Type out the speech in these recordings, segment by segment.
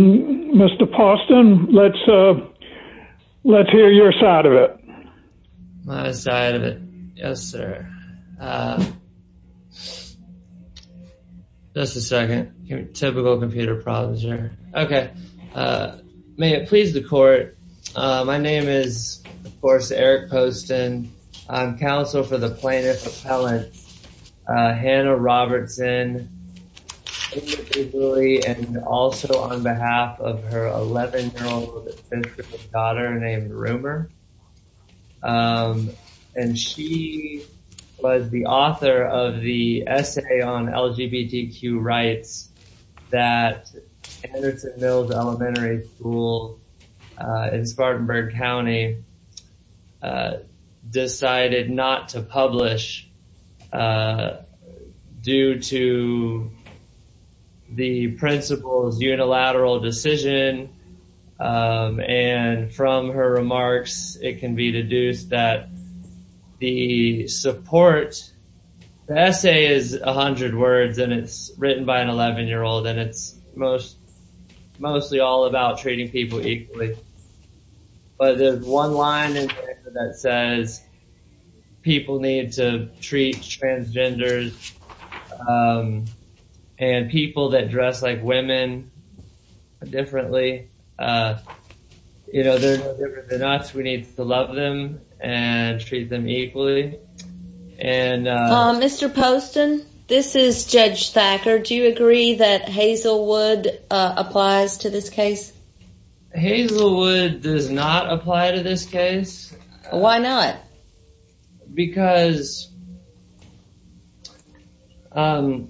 Mr. Poston let's uh let's hear your side of it. My side of it? Yes sir. Just a second. Typical computer problems here. Okay. May it please the court. My name is of course Eric Poston. I'm counsel for the plaintiff appellant Hannah Robertson individually and also on behalf of her 11-year-old daughter named Rumer. And she was the author of the essay on LGBTQ rights that Anderson Mills Elementary School in Spartanburg County decided not to publish due to the principal's unilateral decision and from her remarks it can be deduced that the support the essay is 100 words and it's mostly all about treating people equally but there's one line in there that says people need to treat transgenders and people that dress like women differently. You know they're different than us. We need to love them and treat them equally. Mr. Poston this is Judge Thacker. Do you agree that Hazelwood applies to this case? Hazelwood does not apply to this case. Why not? Because the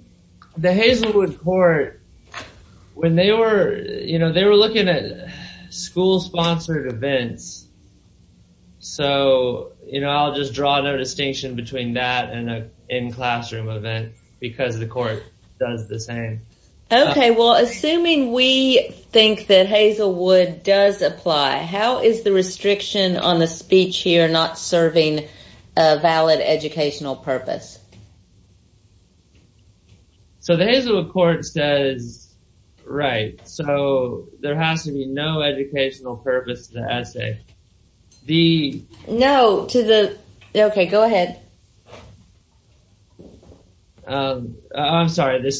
Hazelwood court when they were you know they were looking at school sponsored events so you know I'll just draw no distinction between that and a in classroom event because the court does the same. Okay well assuming we think that Hazelwood does apply how is the restriction on the speech here not serving a valid educational purpose? So the Hazelwood court says right so there has to be no educational purpose to the essay. The no to the okay go ahead. I'm sorry the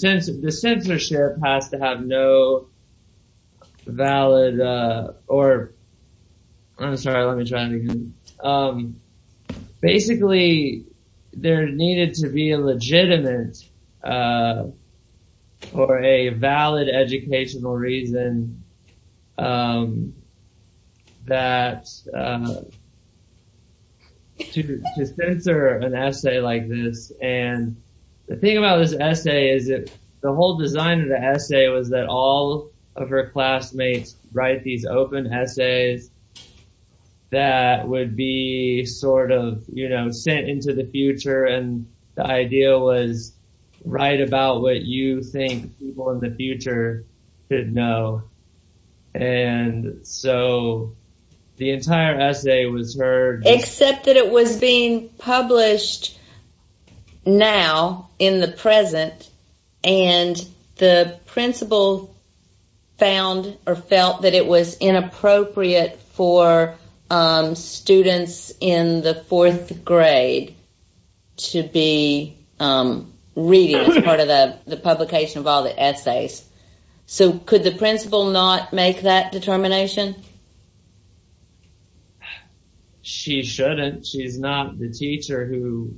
censorship has to have no valid or I'm sorry let me try it again. Basically there needed to be a legitimate or a valid educational reason that to censor an essay like this and the thing about this essay is it the whole design of the essay was that all of her classmates write these open essays that would be sort of you know sent into the future and the idea was write about what you think people in the future should know. And so the entire essay was her except that it was being published now in the present and the principal found or felt that it was inappropriate for students in the fourth grade to be reading as part of the publication of all the essays. So could the principal not make that determination? She shouldn't she's not the teacher who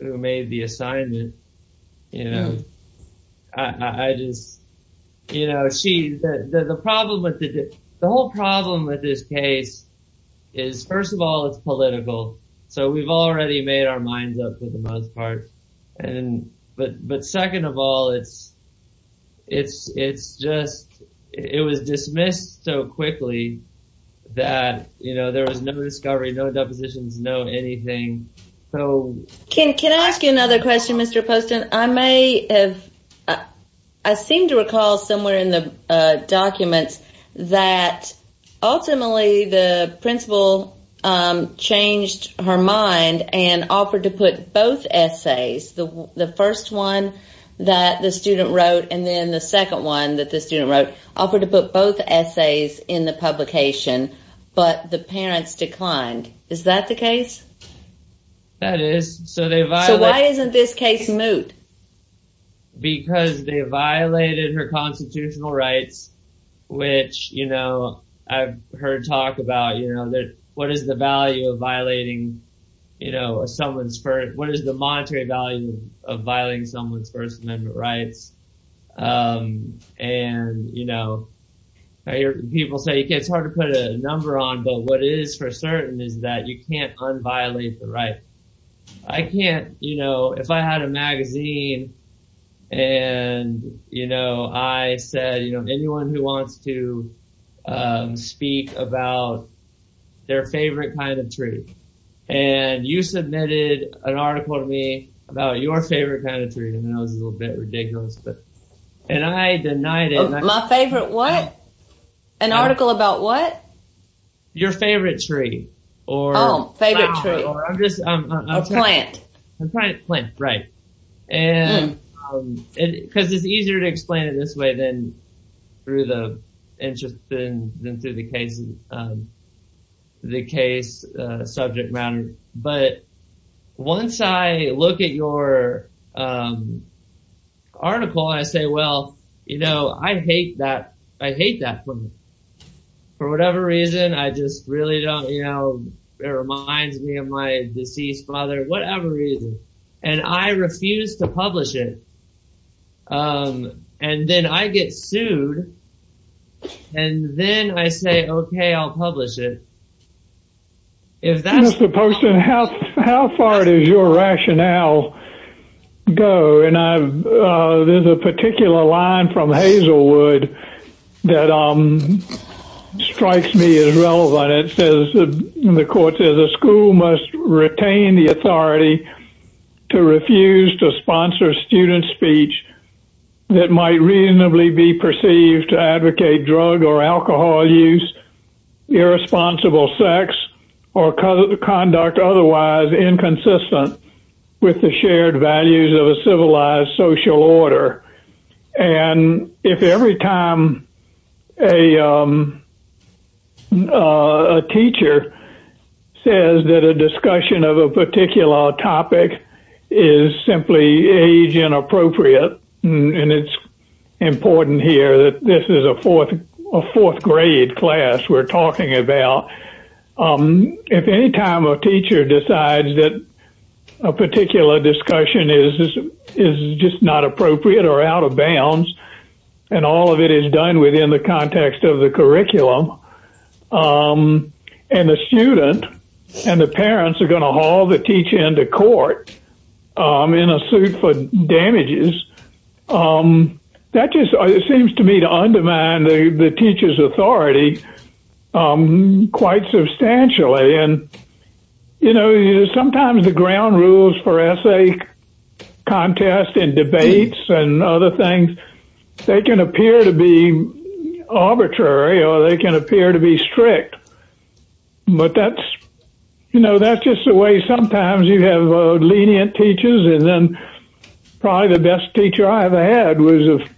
made the assignment you know I just you know she the problem with the whole problem with this case is first of all it's political so we've already made our minds up for the most part and but but second of all it's it's it's just it was dismissed so quickly that you know there was no discovery no depositions no anything. Can I ask you another question Mr. Poston? I may have I seem to recall somewhere in the and offered to put both essays the first one that the student wrote and then the second one that the student wrote offered to put both essays in the publication but the parents declined. Is that the case? That is so they violated. So why isn't this case moot? Because they violated her constitutional rights which you know I've heard talk about you know that what is the value of violating you know someone's first what is the monetary value of violating someone's first amendment rights and you know I hear people say it's hard to put a number on but what it is for certain is that you can't unviolate the right. I can't you know if I had a magazine and you know I said you know anyone who wants to speak about their favorite kind of tree and you submitted an article to me about your favorite kind of tree and that was a little bit ridiculous but and I denied it. My favorite what? An article about what? Your favorite tree or oh favorite tree I'm just a plant. I'm trying to plant right and because it's easier to explain it this way than through the interest and then through the case the case subject matter but once I look at your article I say well you know I hate that I hate that for whatever reason I just really don't you know my deceased father whatever reason and I refuse to publish it and then I get sued and then I say okay I'll publish it. Mr. Poston how far does your rationale go and I've there's a particular line from Hazelwood that strikes me as relevant it says the court says a school must retain the authority to refuse to sponsor student speech that might reasonably be perceived to advocate drug or alcohol use irresponsible sex or conduct otherwise inconsistent with the shared values of a civilized social order and if every time a teacher says that a discussion of a particular topic is simply age inappropriate and it's important here that this is a fourth grade class we're talking about if any time a teacher decides that a particular discussion is just not appropriate or out of bounds and all of it is within the context of the curriculum and the student and the parents are going to haul the teacher into court in a suit for damages that just seems to me to undermine the teacher's authority quite substantially and you know sometimes the ground rules for essay contests and debates and other things they can appear to be arbitrary or they can appear to be strict but that's you know that's just the way sometimes you have lenient teachers and then probably the best teacher I ever had was a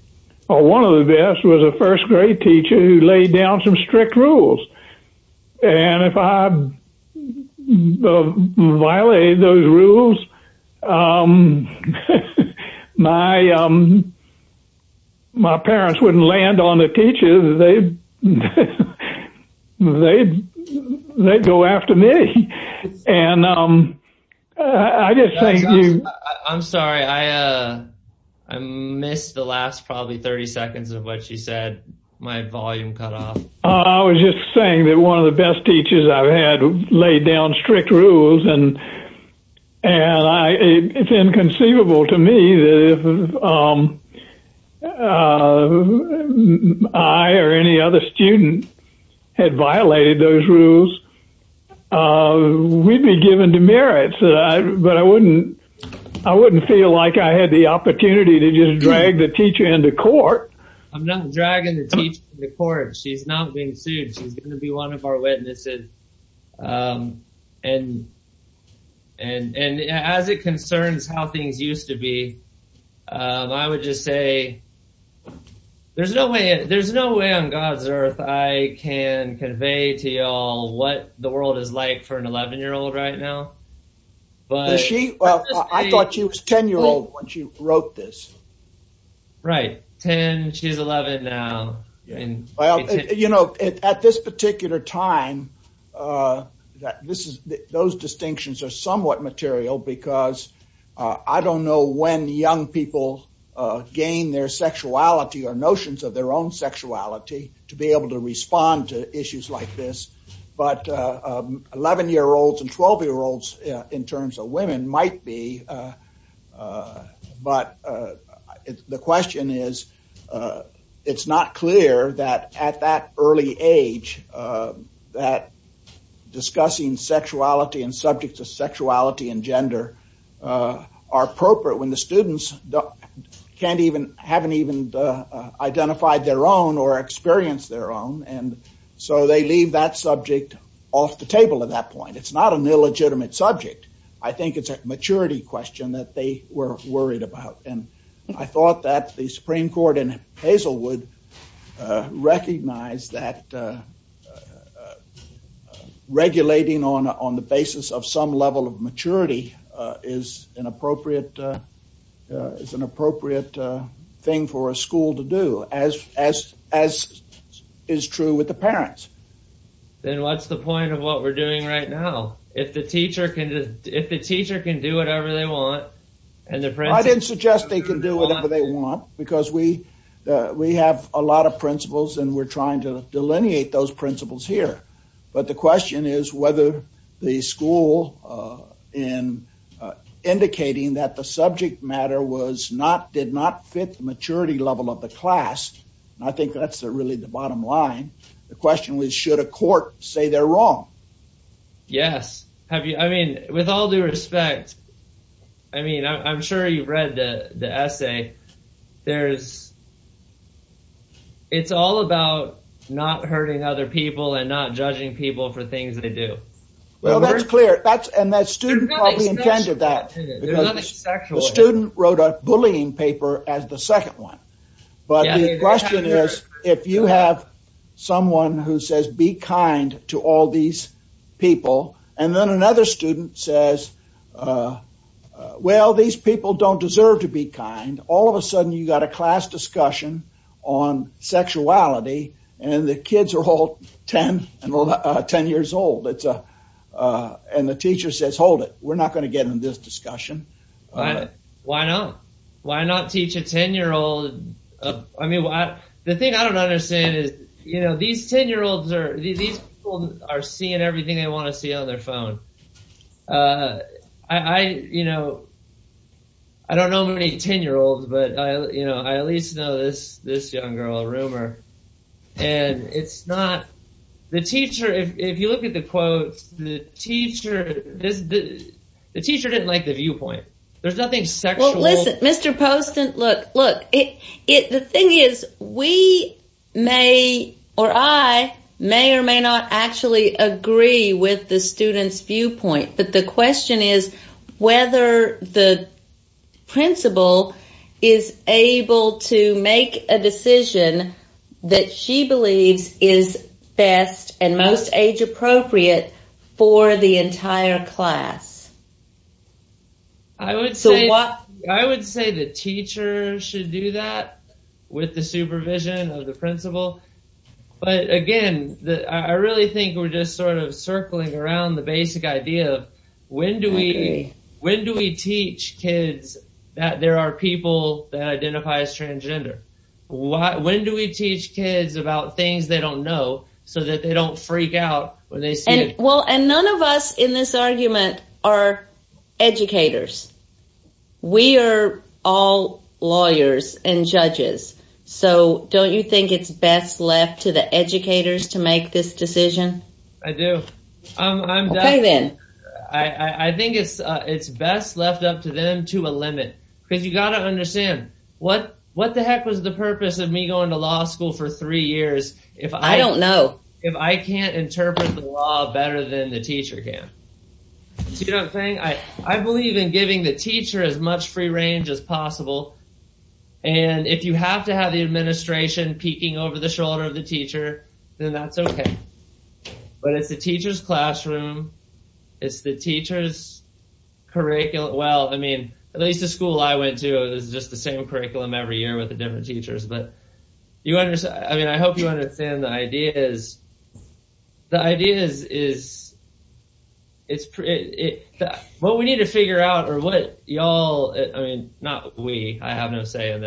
one of the best was a first grade teacher who laid down some strict rules and if I violated those rules my parents wouldn't land on the teacher they'd go after me and I just thank you. I'm sorry I missed the last probably 30 seconds of what she said my volume cut off. I was just saying that one of the best teachers I've had laid down strict rules and and I it's inconceivable to me that if I or any other student had violated those rules we'd be given demerits that I but I wouldn't I wouldn't feel like I had the opportunity to just the court she's not being sued she's going to be one of our witnesses and as it concerns how things used to be I would just say there's no way there's no way on god's earth I can convey to y'all what the world is like for an 11 year old right now but she well I thought she was 10 year old when she wrote this right 10 she's 11 now and well you know at this particular time that this is those distinctions are somewhat material because I don't know when young people gain their sexuality or notions of their own sexuality to be able to respond to issues like this but 11 year olds and 12 year olds in terms of women might be but the question is it's not clear that at that early age that discussing sexuality and subjects of sexuality and gender are appropriate when the students can't even haven't even identified their own or experienced their own and so they leave that subject off the table at that subject I think it's a maturity question that they were worried about and I thought that the supreme court in Hazelwood recognized that regulating on on the basis of some level of maturity is an appropriate it's an appropriate thing for a school to do as as as is true with parents then what's the point of what we're doing right now if the teacher can just if the teacher can do whatever they want and their friends I didn't suggest they can do whatever they want because we we have a lot of principles and we're trying to delineate those principles here but the question is whether the school in indicating that the subject matter was not did not fit the maturity level of the class and I think that's the really the bottom line the question was should a court say they're wrong yes have you I mean with all due respect I mean I'm sure you've read the the essay there's it's all about not hurting other people and not judging people for things they do well that's clear that's and that student probably intended that student wrote a bullying paper as the second one but the question is if you have someone who says be kind to all these people and then another student says well these people don't deserve to be kind all of a sudden you got a class discussion on sexuality and the kids are all 10 and 10 years old it's a and the teacher says hold it we're not going to get in this discussion why not why not teach a 10 year old I mean why the thing I don't understand is you know these 10 year olds are these people are seeing everything they want to see on their phone uh I you know I don't know many 10 year olds but I you know I at least know this this young girl rumor and it's not the teacher if you look at the quotes the teacher this the teacher didn't like the viewpoint there's nothing sexual listen Mr. Poston look look it it the thing is we may or I may or may not actually agree with the student's viewpoint but the question is whether the principal is able to make a decision that she believes is best and most age-appropriate for the entire class I would say what I would say the teacher should do that with the supervision of the principal but again that I really think we're just sort of circling around the basic idea when do we when do we teach kids that there are people that identify as transgender when do we teach kids about things they don't know so that they don't freak out when they see well and none of us in this argument are educators we are all lawyers and judges so don't you think it's best left to the educators to make this decision I do I'm okay then I I think it's uh it's best left up to them to a limit because you got to understand what what the heck was the purpose of me going to law school for three years if I don't know if I can't interpret the law better than the teacher can you know I'm saying I I believe in giving the teacher as over the shoulder of the teacher then that's okay but it's the teacher's classroom it's the teacher's curriculum well I mean at least the school I went to is just the same curriculum every year with the different teachers but you understand I mean I hope you understand the idea is the idea is is it's it what we need to figure out or what y'all I mean not we I have no say in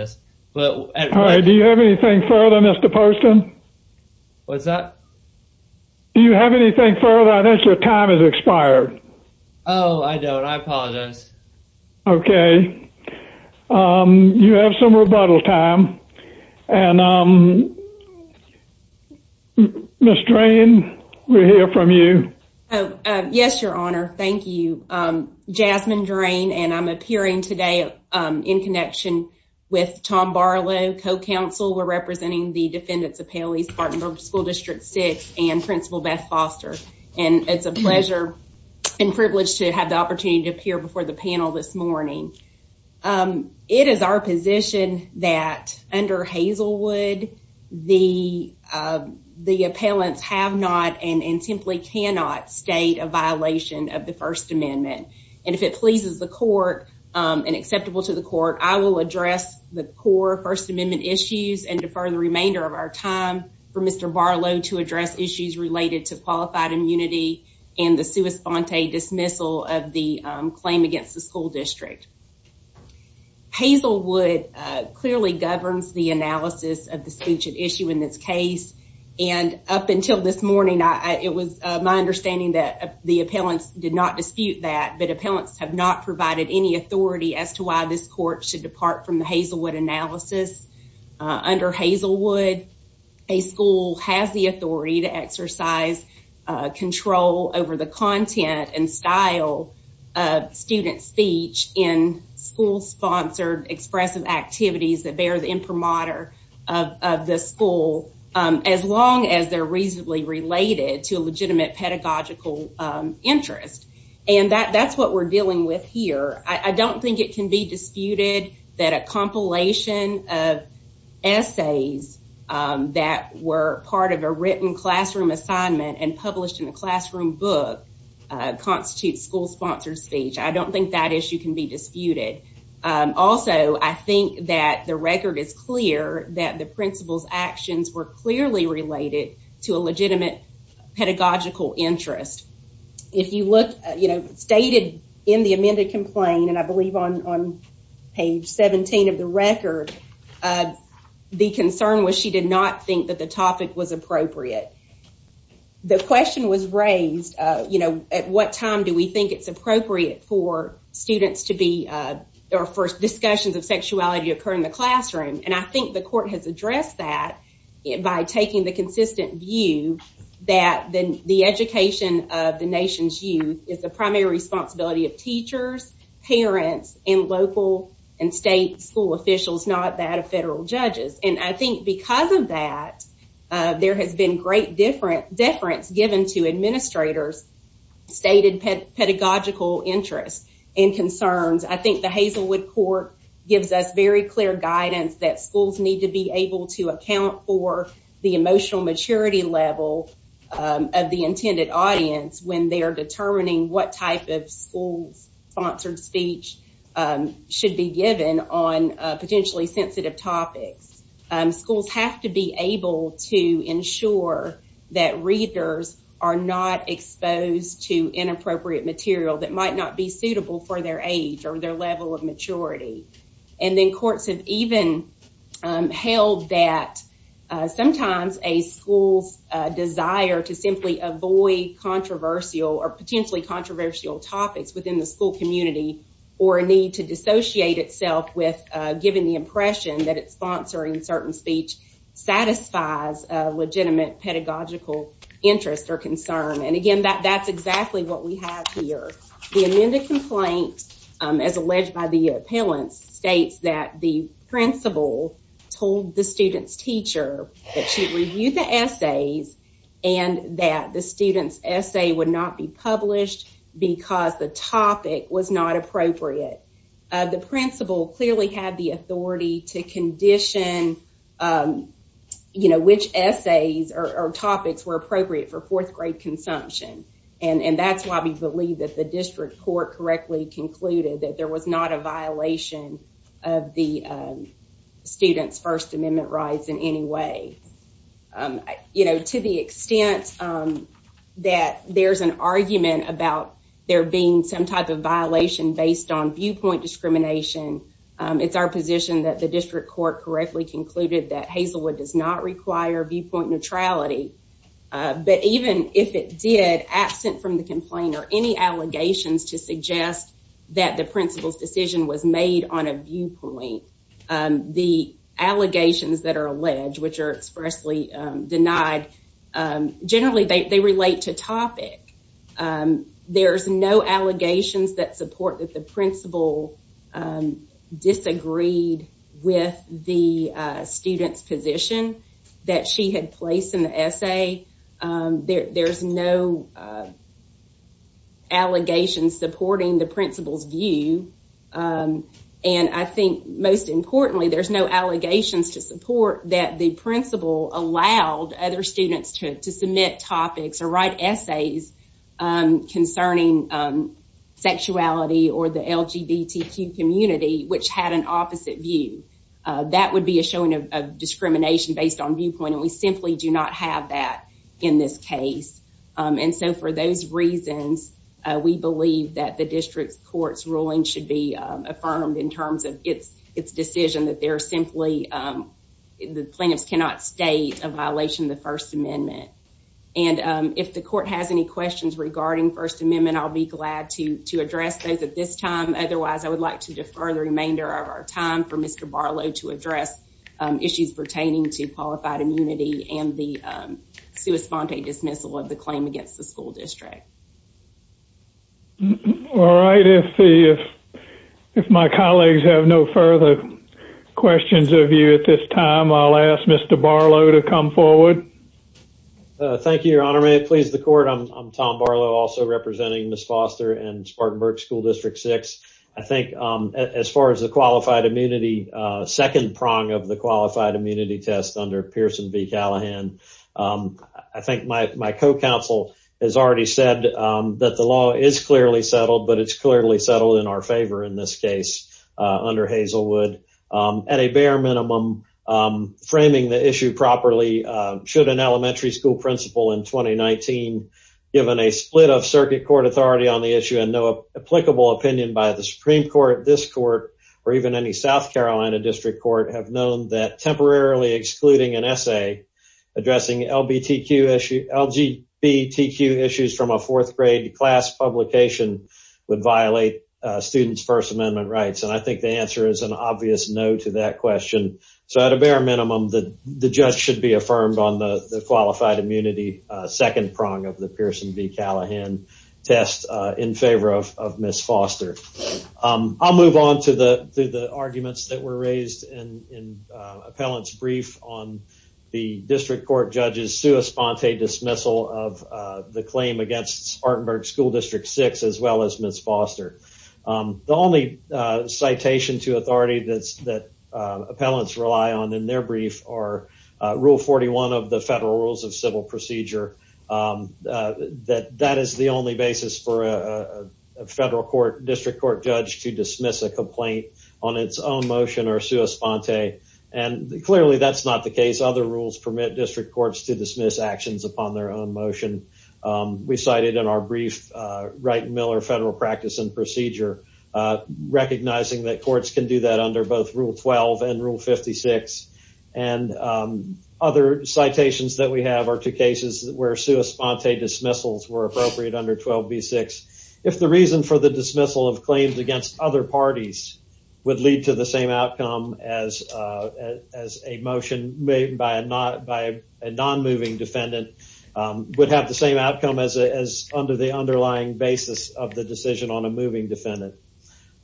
but all right do you have anything further Mr. Poston what's that do you have anything further I think your time has expired oh I don't I apologize okay um you have some rebuttal time and um Miss Drain we hear from you oh yes your honor thank you um Jasmine Drain and I'm appearing today in connection with Tom Barlow co-counsel we're representing the defendants appellees Spartanburg school district six and principal Beth Foster and it's a pleasure and privilege to have the opportunity to appear before the panel this morning um it is our position that under Hazelwood the uh the appellants have not and and simply cannot state a violation of the and acceptable to the court I will address the core first amendment issues and defer the remainder of our time for Mr. Barlow to address issues related to qualified immunity and the sua sponte dismissal of the claim against the school district Hazelwood clearly governs the analysis of the speech at issue in this case and up until this morning I it was my understanding that the appellants did not dispute that but appellants have not provided any authority as to why this court should depart from the Hazelwood analysis under Hazelwood a school has the authority to exercise control over the content and style of student speech in school sponsored expressive activities that bear the imprimatur of the school as long as they're reasonably related to a legitimate pedagogical interest and that that's what we're dealing with here I don't think it can be disputed that a compilation of essays that were part of a written classroom assignment and published in a classroom book constitutes school sponsored speech I don't think that issue can be disputed also I think that the record is clear that the principal's actions were clearly related to a legitimate pedagogical interest if you look you know stated in the amended complaint and I believe on on page 17 of the record the concern was she did not think that the topic was appropriate the question was raised you know at what time do we think it's appropriate for students to be or first discussions of sexuality occur in the classroom and I think the court has addressed that by taking the consistent view that then the education of the nation's youth is the primary responsibility of teachers parents and local and state school officials not that of federal judges and I think because of that there has been great different deference given to administrators stated pedagogical interests and concerns I think the Hazelwood court gives us very clear guidance that schools need to be able to account for the emotional maturity level of the intended audience when they are determining what type of school sponsored speech should be given on potentially sensitive topics schools have to be able to ensure that readers are not exposed to inappropriate material that might not be suitable for their age or their level of maturity and then courts have even held that sometimes a school's desire to simply avoid controversial or potentially controversial topics within the school community or a need to dissociate itself with giving the impression that it's sponsoring certain speech satisfies a legitimate pedagogical interest or concern and again that that's exactly what we have here the amended complaint as alleged by the appellants states that the principal told the student's teacher that she reviewed the essays and that the student's essay would not be published because the topic was not appropriate the principal clearly had the authority to condition you know which essays or topics were appropriate for fourth grade consumption and and that's why we believe that the district court correctly concluded that there was not a violation of the student's first amendment rights in any way you know to the extent that there's an argument about there being some type of violation based on viewpoint discrimination it's our position that the district court correctly concluded that Hazelwood does not absent from the complaint or any allegations to suggest that the principal's decision was made on a viewpoint the allegations that are alleged which are expressly denied generally they relate to topic there's no allegations that support that the principal disagreed with the student's position that she had placed in the essay there's no allegations supporting the principal's view and I think most importantly there's no allegations to support that the principal allowed other students to submit topics or write essays concerning sexuality or the lgbtq community which had an opposite view that would be a showing of discrimination based on viewpoint and we simply do not have that in this case and so for those reasons we believe that the district court's ruling should be affirmed in terms of its decision that they're simply the plaintiffs cannot state a violation of the first amendment and if the court has any questions regarding first amendment I'll be glad to to address those at this time otherwise I would like to defer remainder of our time for Mr. Barlow to address issues pertaining to qualified immunity and the sua sponte dismissal of the claim against the school district. All right if my colleagues have no further questions of you at this time I'll ask Mr. Barlow to come forward. Thank you your honor may it please the court I'm Tom Barlow also representing Ms. Foster and Spartanburg school district six I think as far as the qualified immunity second prong of the qualified immunity test under Pearson v Callahan I think my co-counsel has already said that the law is clearly settled but it's clearly settled in our favor in this case under Hazelwood at a bare minimum framing the issue properly should an elementary school principal in 2019 given a split of circuit court authority on the issue and no applicable opinion by the supreme court this court or even any South Carolina district court have known that temporarily excluding an essay addressing LGBTQ issues from a fourth grade class publication would violate students first amendment rights and I think the answer is an obvious no to that question so at a bare minimum that the judge should be affirmed on the the qualified immunity second prong of the Pearson v Callahan test in favor of of Ms. Foster I'll move on to the to the arguments that were raised in in appellant's brief on the district court judges sua sponte dismissal of the claim against Spartanburg school district six as well as Ms. Foster the only citation to that appellants rely on in their brief are rule 41 of the federal rules of civil procedure that that is the only basis for a federal court district court judge to dismiss a complaint on its own motion or sua sponte and clearly that's not the case other rules permit district courts to dismiss actions upon their own motion we cited in our brief right miller federal practice and procedure recognizing that courts can do that under both rule 12 and rule 56 and other citations that we have are two cases where sua sponte dismissals were appropriate under 12b6 if the reason for the dismissal of claims against other parties would lead to the same outcome as as a motion made by a not by a non-moving defendant would have the same outcome as under the underlying basis of the decision on a moving defendant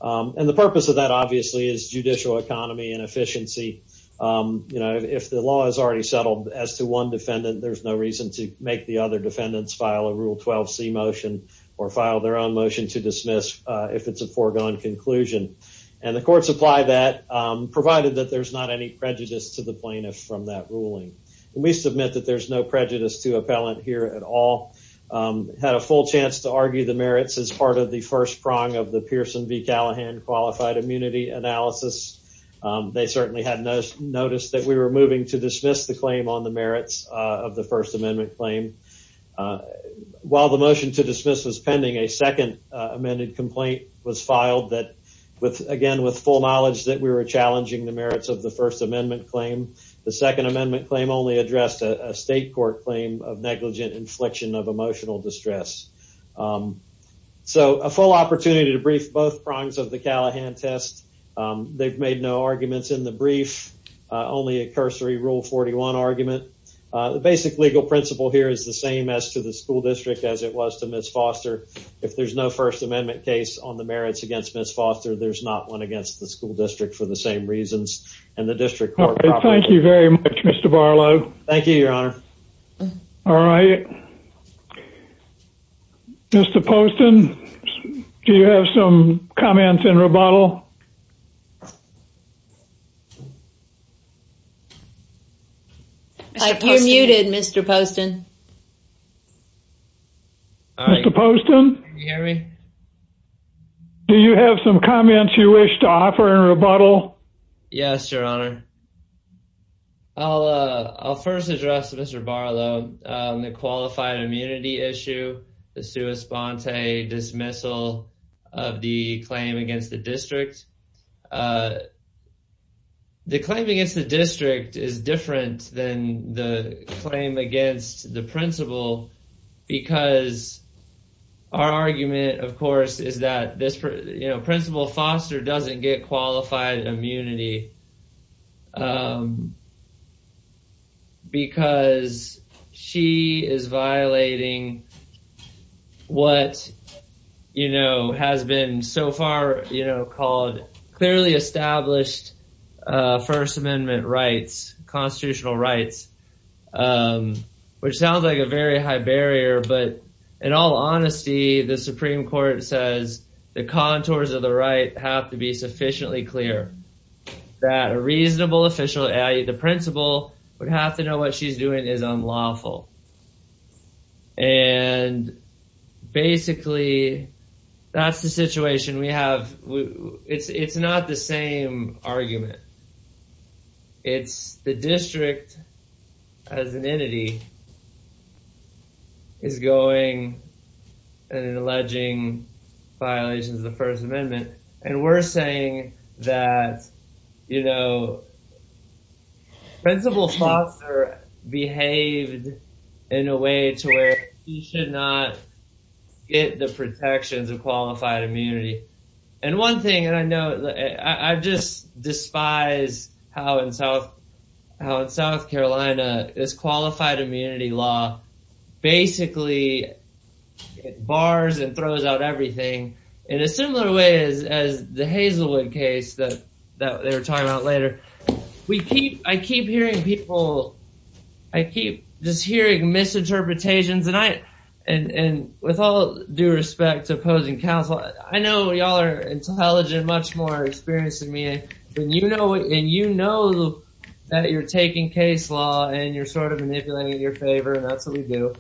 and the purpose of that obviously is judicial economy and efficiency you know if the law is already settled as to one defendant there's no reason to make the other defendants file a rule 12c motion or file their own motion to dismiss if it's a foregone conclusion and the courts apply that provided that there's not any prejudice to the plaintiff from that ruling and we submit that there's no prejudice to appellant here at all had a full chance to argue the merits as part of the first prong of the pearson v callahan qualified immunity analysis they certainly had noticed noticed that we were moving to dismiss the claim on the merits of the first amendment claim while the motion to dismiss was pending a second amended complaint was filed that with again with full knowledge that we were challenging the merits of the first amendment claim the second amendment claim only addressed a state court claim of negligent infliction of emotional distress so a full opportunity to brief both prongs of the callahan test they've made no arguments in the brief only a cursory rule 41 argument the basic legal principle here is the same as to the school district as it was to miss foster if there's no first amendment case on the merits against miss foster there's not one against the school district for the same reasons and the district thank you very much mr barlow thank you your honor all right mr poston do you have some comments in rebuttal i'm muted mr poston do you have some comments you wish to offer in rebuttal yes your honor i'll uh i'll first address mr barlow on the qualified immunity issue the sua sponte dismissal of the claim against the district uh the claim against the district is different than the claim against the principle because our argument of course is that this you know principal foster doesn't get qualified immunity um because she is violating what you know has been so far you know called clearly established uh first amendment rights constitutional rights um which sounds like a very high barrier but in all honesty the supreme court says the contours of the right have to be sufficiently clear that a reasonable official i.e the principal would have to know what she's doing is unlawful and basically that's the situation we have it's it's not the same argument it's the district as an entity is going and alleging violations of the first amendment and we're saying that you know principal foster behaved in a way to where he should not get the protections of qualified immunity and one thing and i know i just despise how in south how in south carolina this qualified immunity law basically it bars and throws out everything in a similar way as the hazelwood case that that they were talking about later we keep i keep hearing people i keep just hearing misinterpretations and i and and with all due respect to opposing counsel i know y'all are intelligent much more experienced than me and you know and you know that you're taking case law and you're sort of manipulating in your favor and that's what we do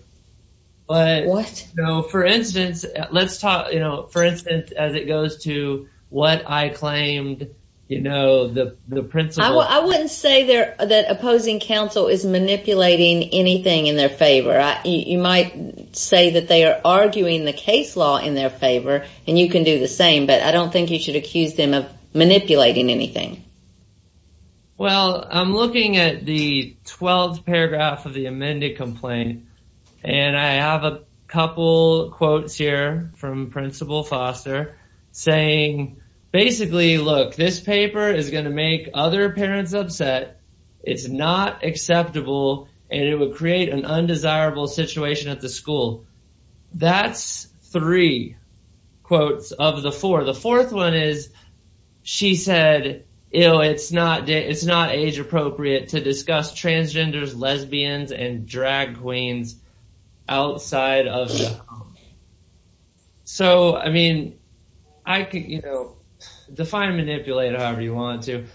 but what no for instance let's you know for instance as it goes to what i claimed you know the the principal i wouldn't say there that opposing counsel is manipulating anything in their favor you might say that they are arguing the case law in their favor and you can do the same but i don't think you should accuse them of manipulating anything well i'm looking at the 12th paragraph of the amended complaint and i have a couple quotes here from principal foster saying basically look this paper is going to make other parents upset it's not acceptable and it would create an undesirable situation at the school that's three quotes of the four the fourth one is she said you know it's not it's not age appropriate to discuss transgenders lesbians and drag queens outside of so i mean i could you know define manipulate however you want to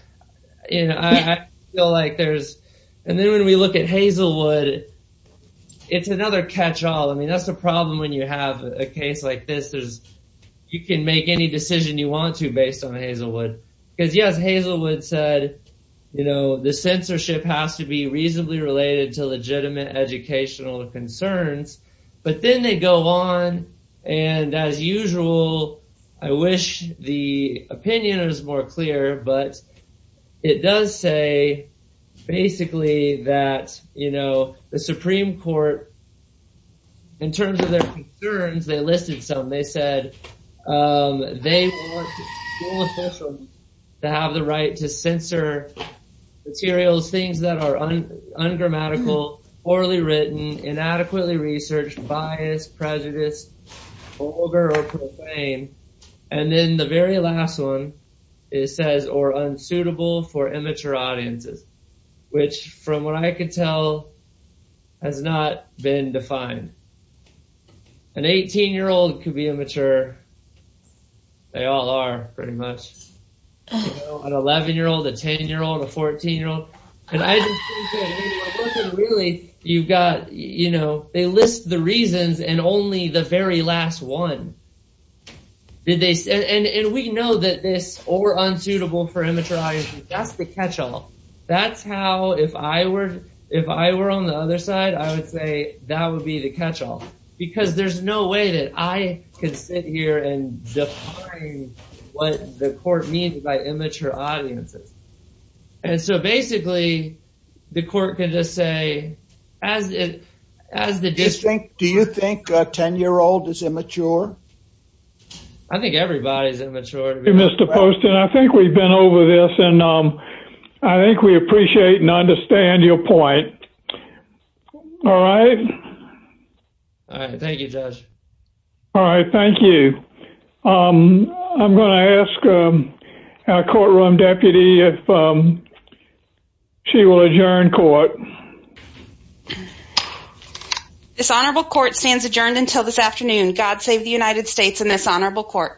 you know i feel like there's and then when we look at hazelwood it's another catch-all i mean that's the problem when you have a case like this there's you can make any decision you want to based on hazelwood because yes hazelwood said you know the censorship has to be reasonably related to legitimate educational concerns but then they go on and as usual i wish the opinion is more clear but it does say basically that you know the supreme court in terms of their concerns they listed some they said um they want school officials to have the right to censor materials things that are ungrammatical poorly written inadequately researched bias prejudice vulgar or profane and then the very last one it says or unsuitable for immature audiences which from what i could tell has not been defined an 18 year old could be immature they all are pretty much an 11 year old a 10 year old a 14 year old and i just think that really you've got you know they list the reasons and only the very last one did they and and we know that this or unsuitable for immature that's the catch-all that's how if i were if i were on the other side i would say that would be the catch-all because there's no way that i can sit here and define what the court means by immature audiences and so basically the court can just say as it as the district do you think a 10 year old is immature i think everybody's immature mr poston i think we've over this and um i think we appreciate and understand your point all right all right thank you josh all right thank you um i'm going to ask um our courtroom deputy if um she will adjourn court dishonorable court stands adjourned until this afternoon god save the united states in this situation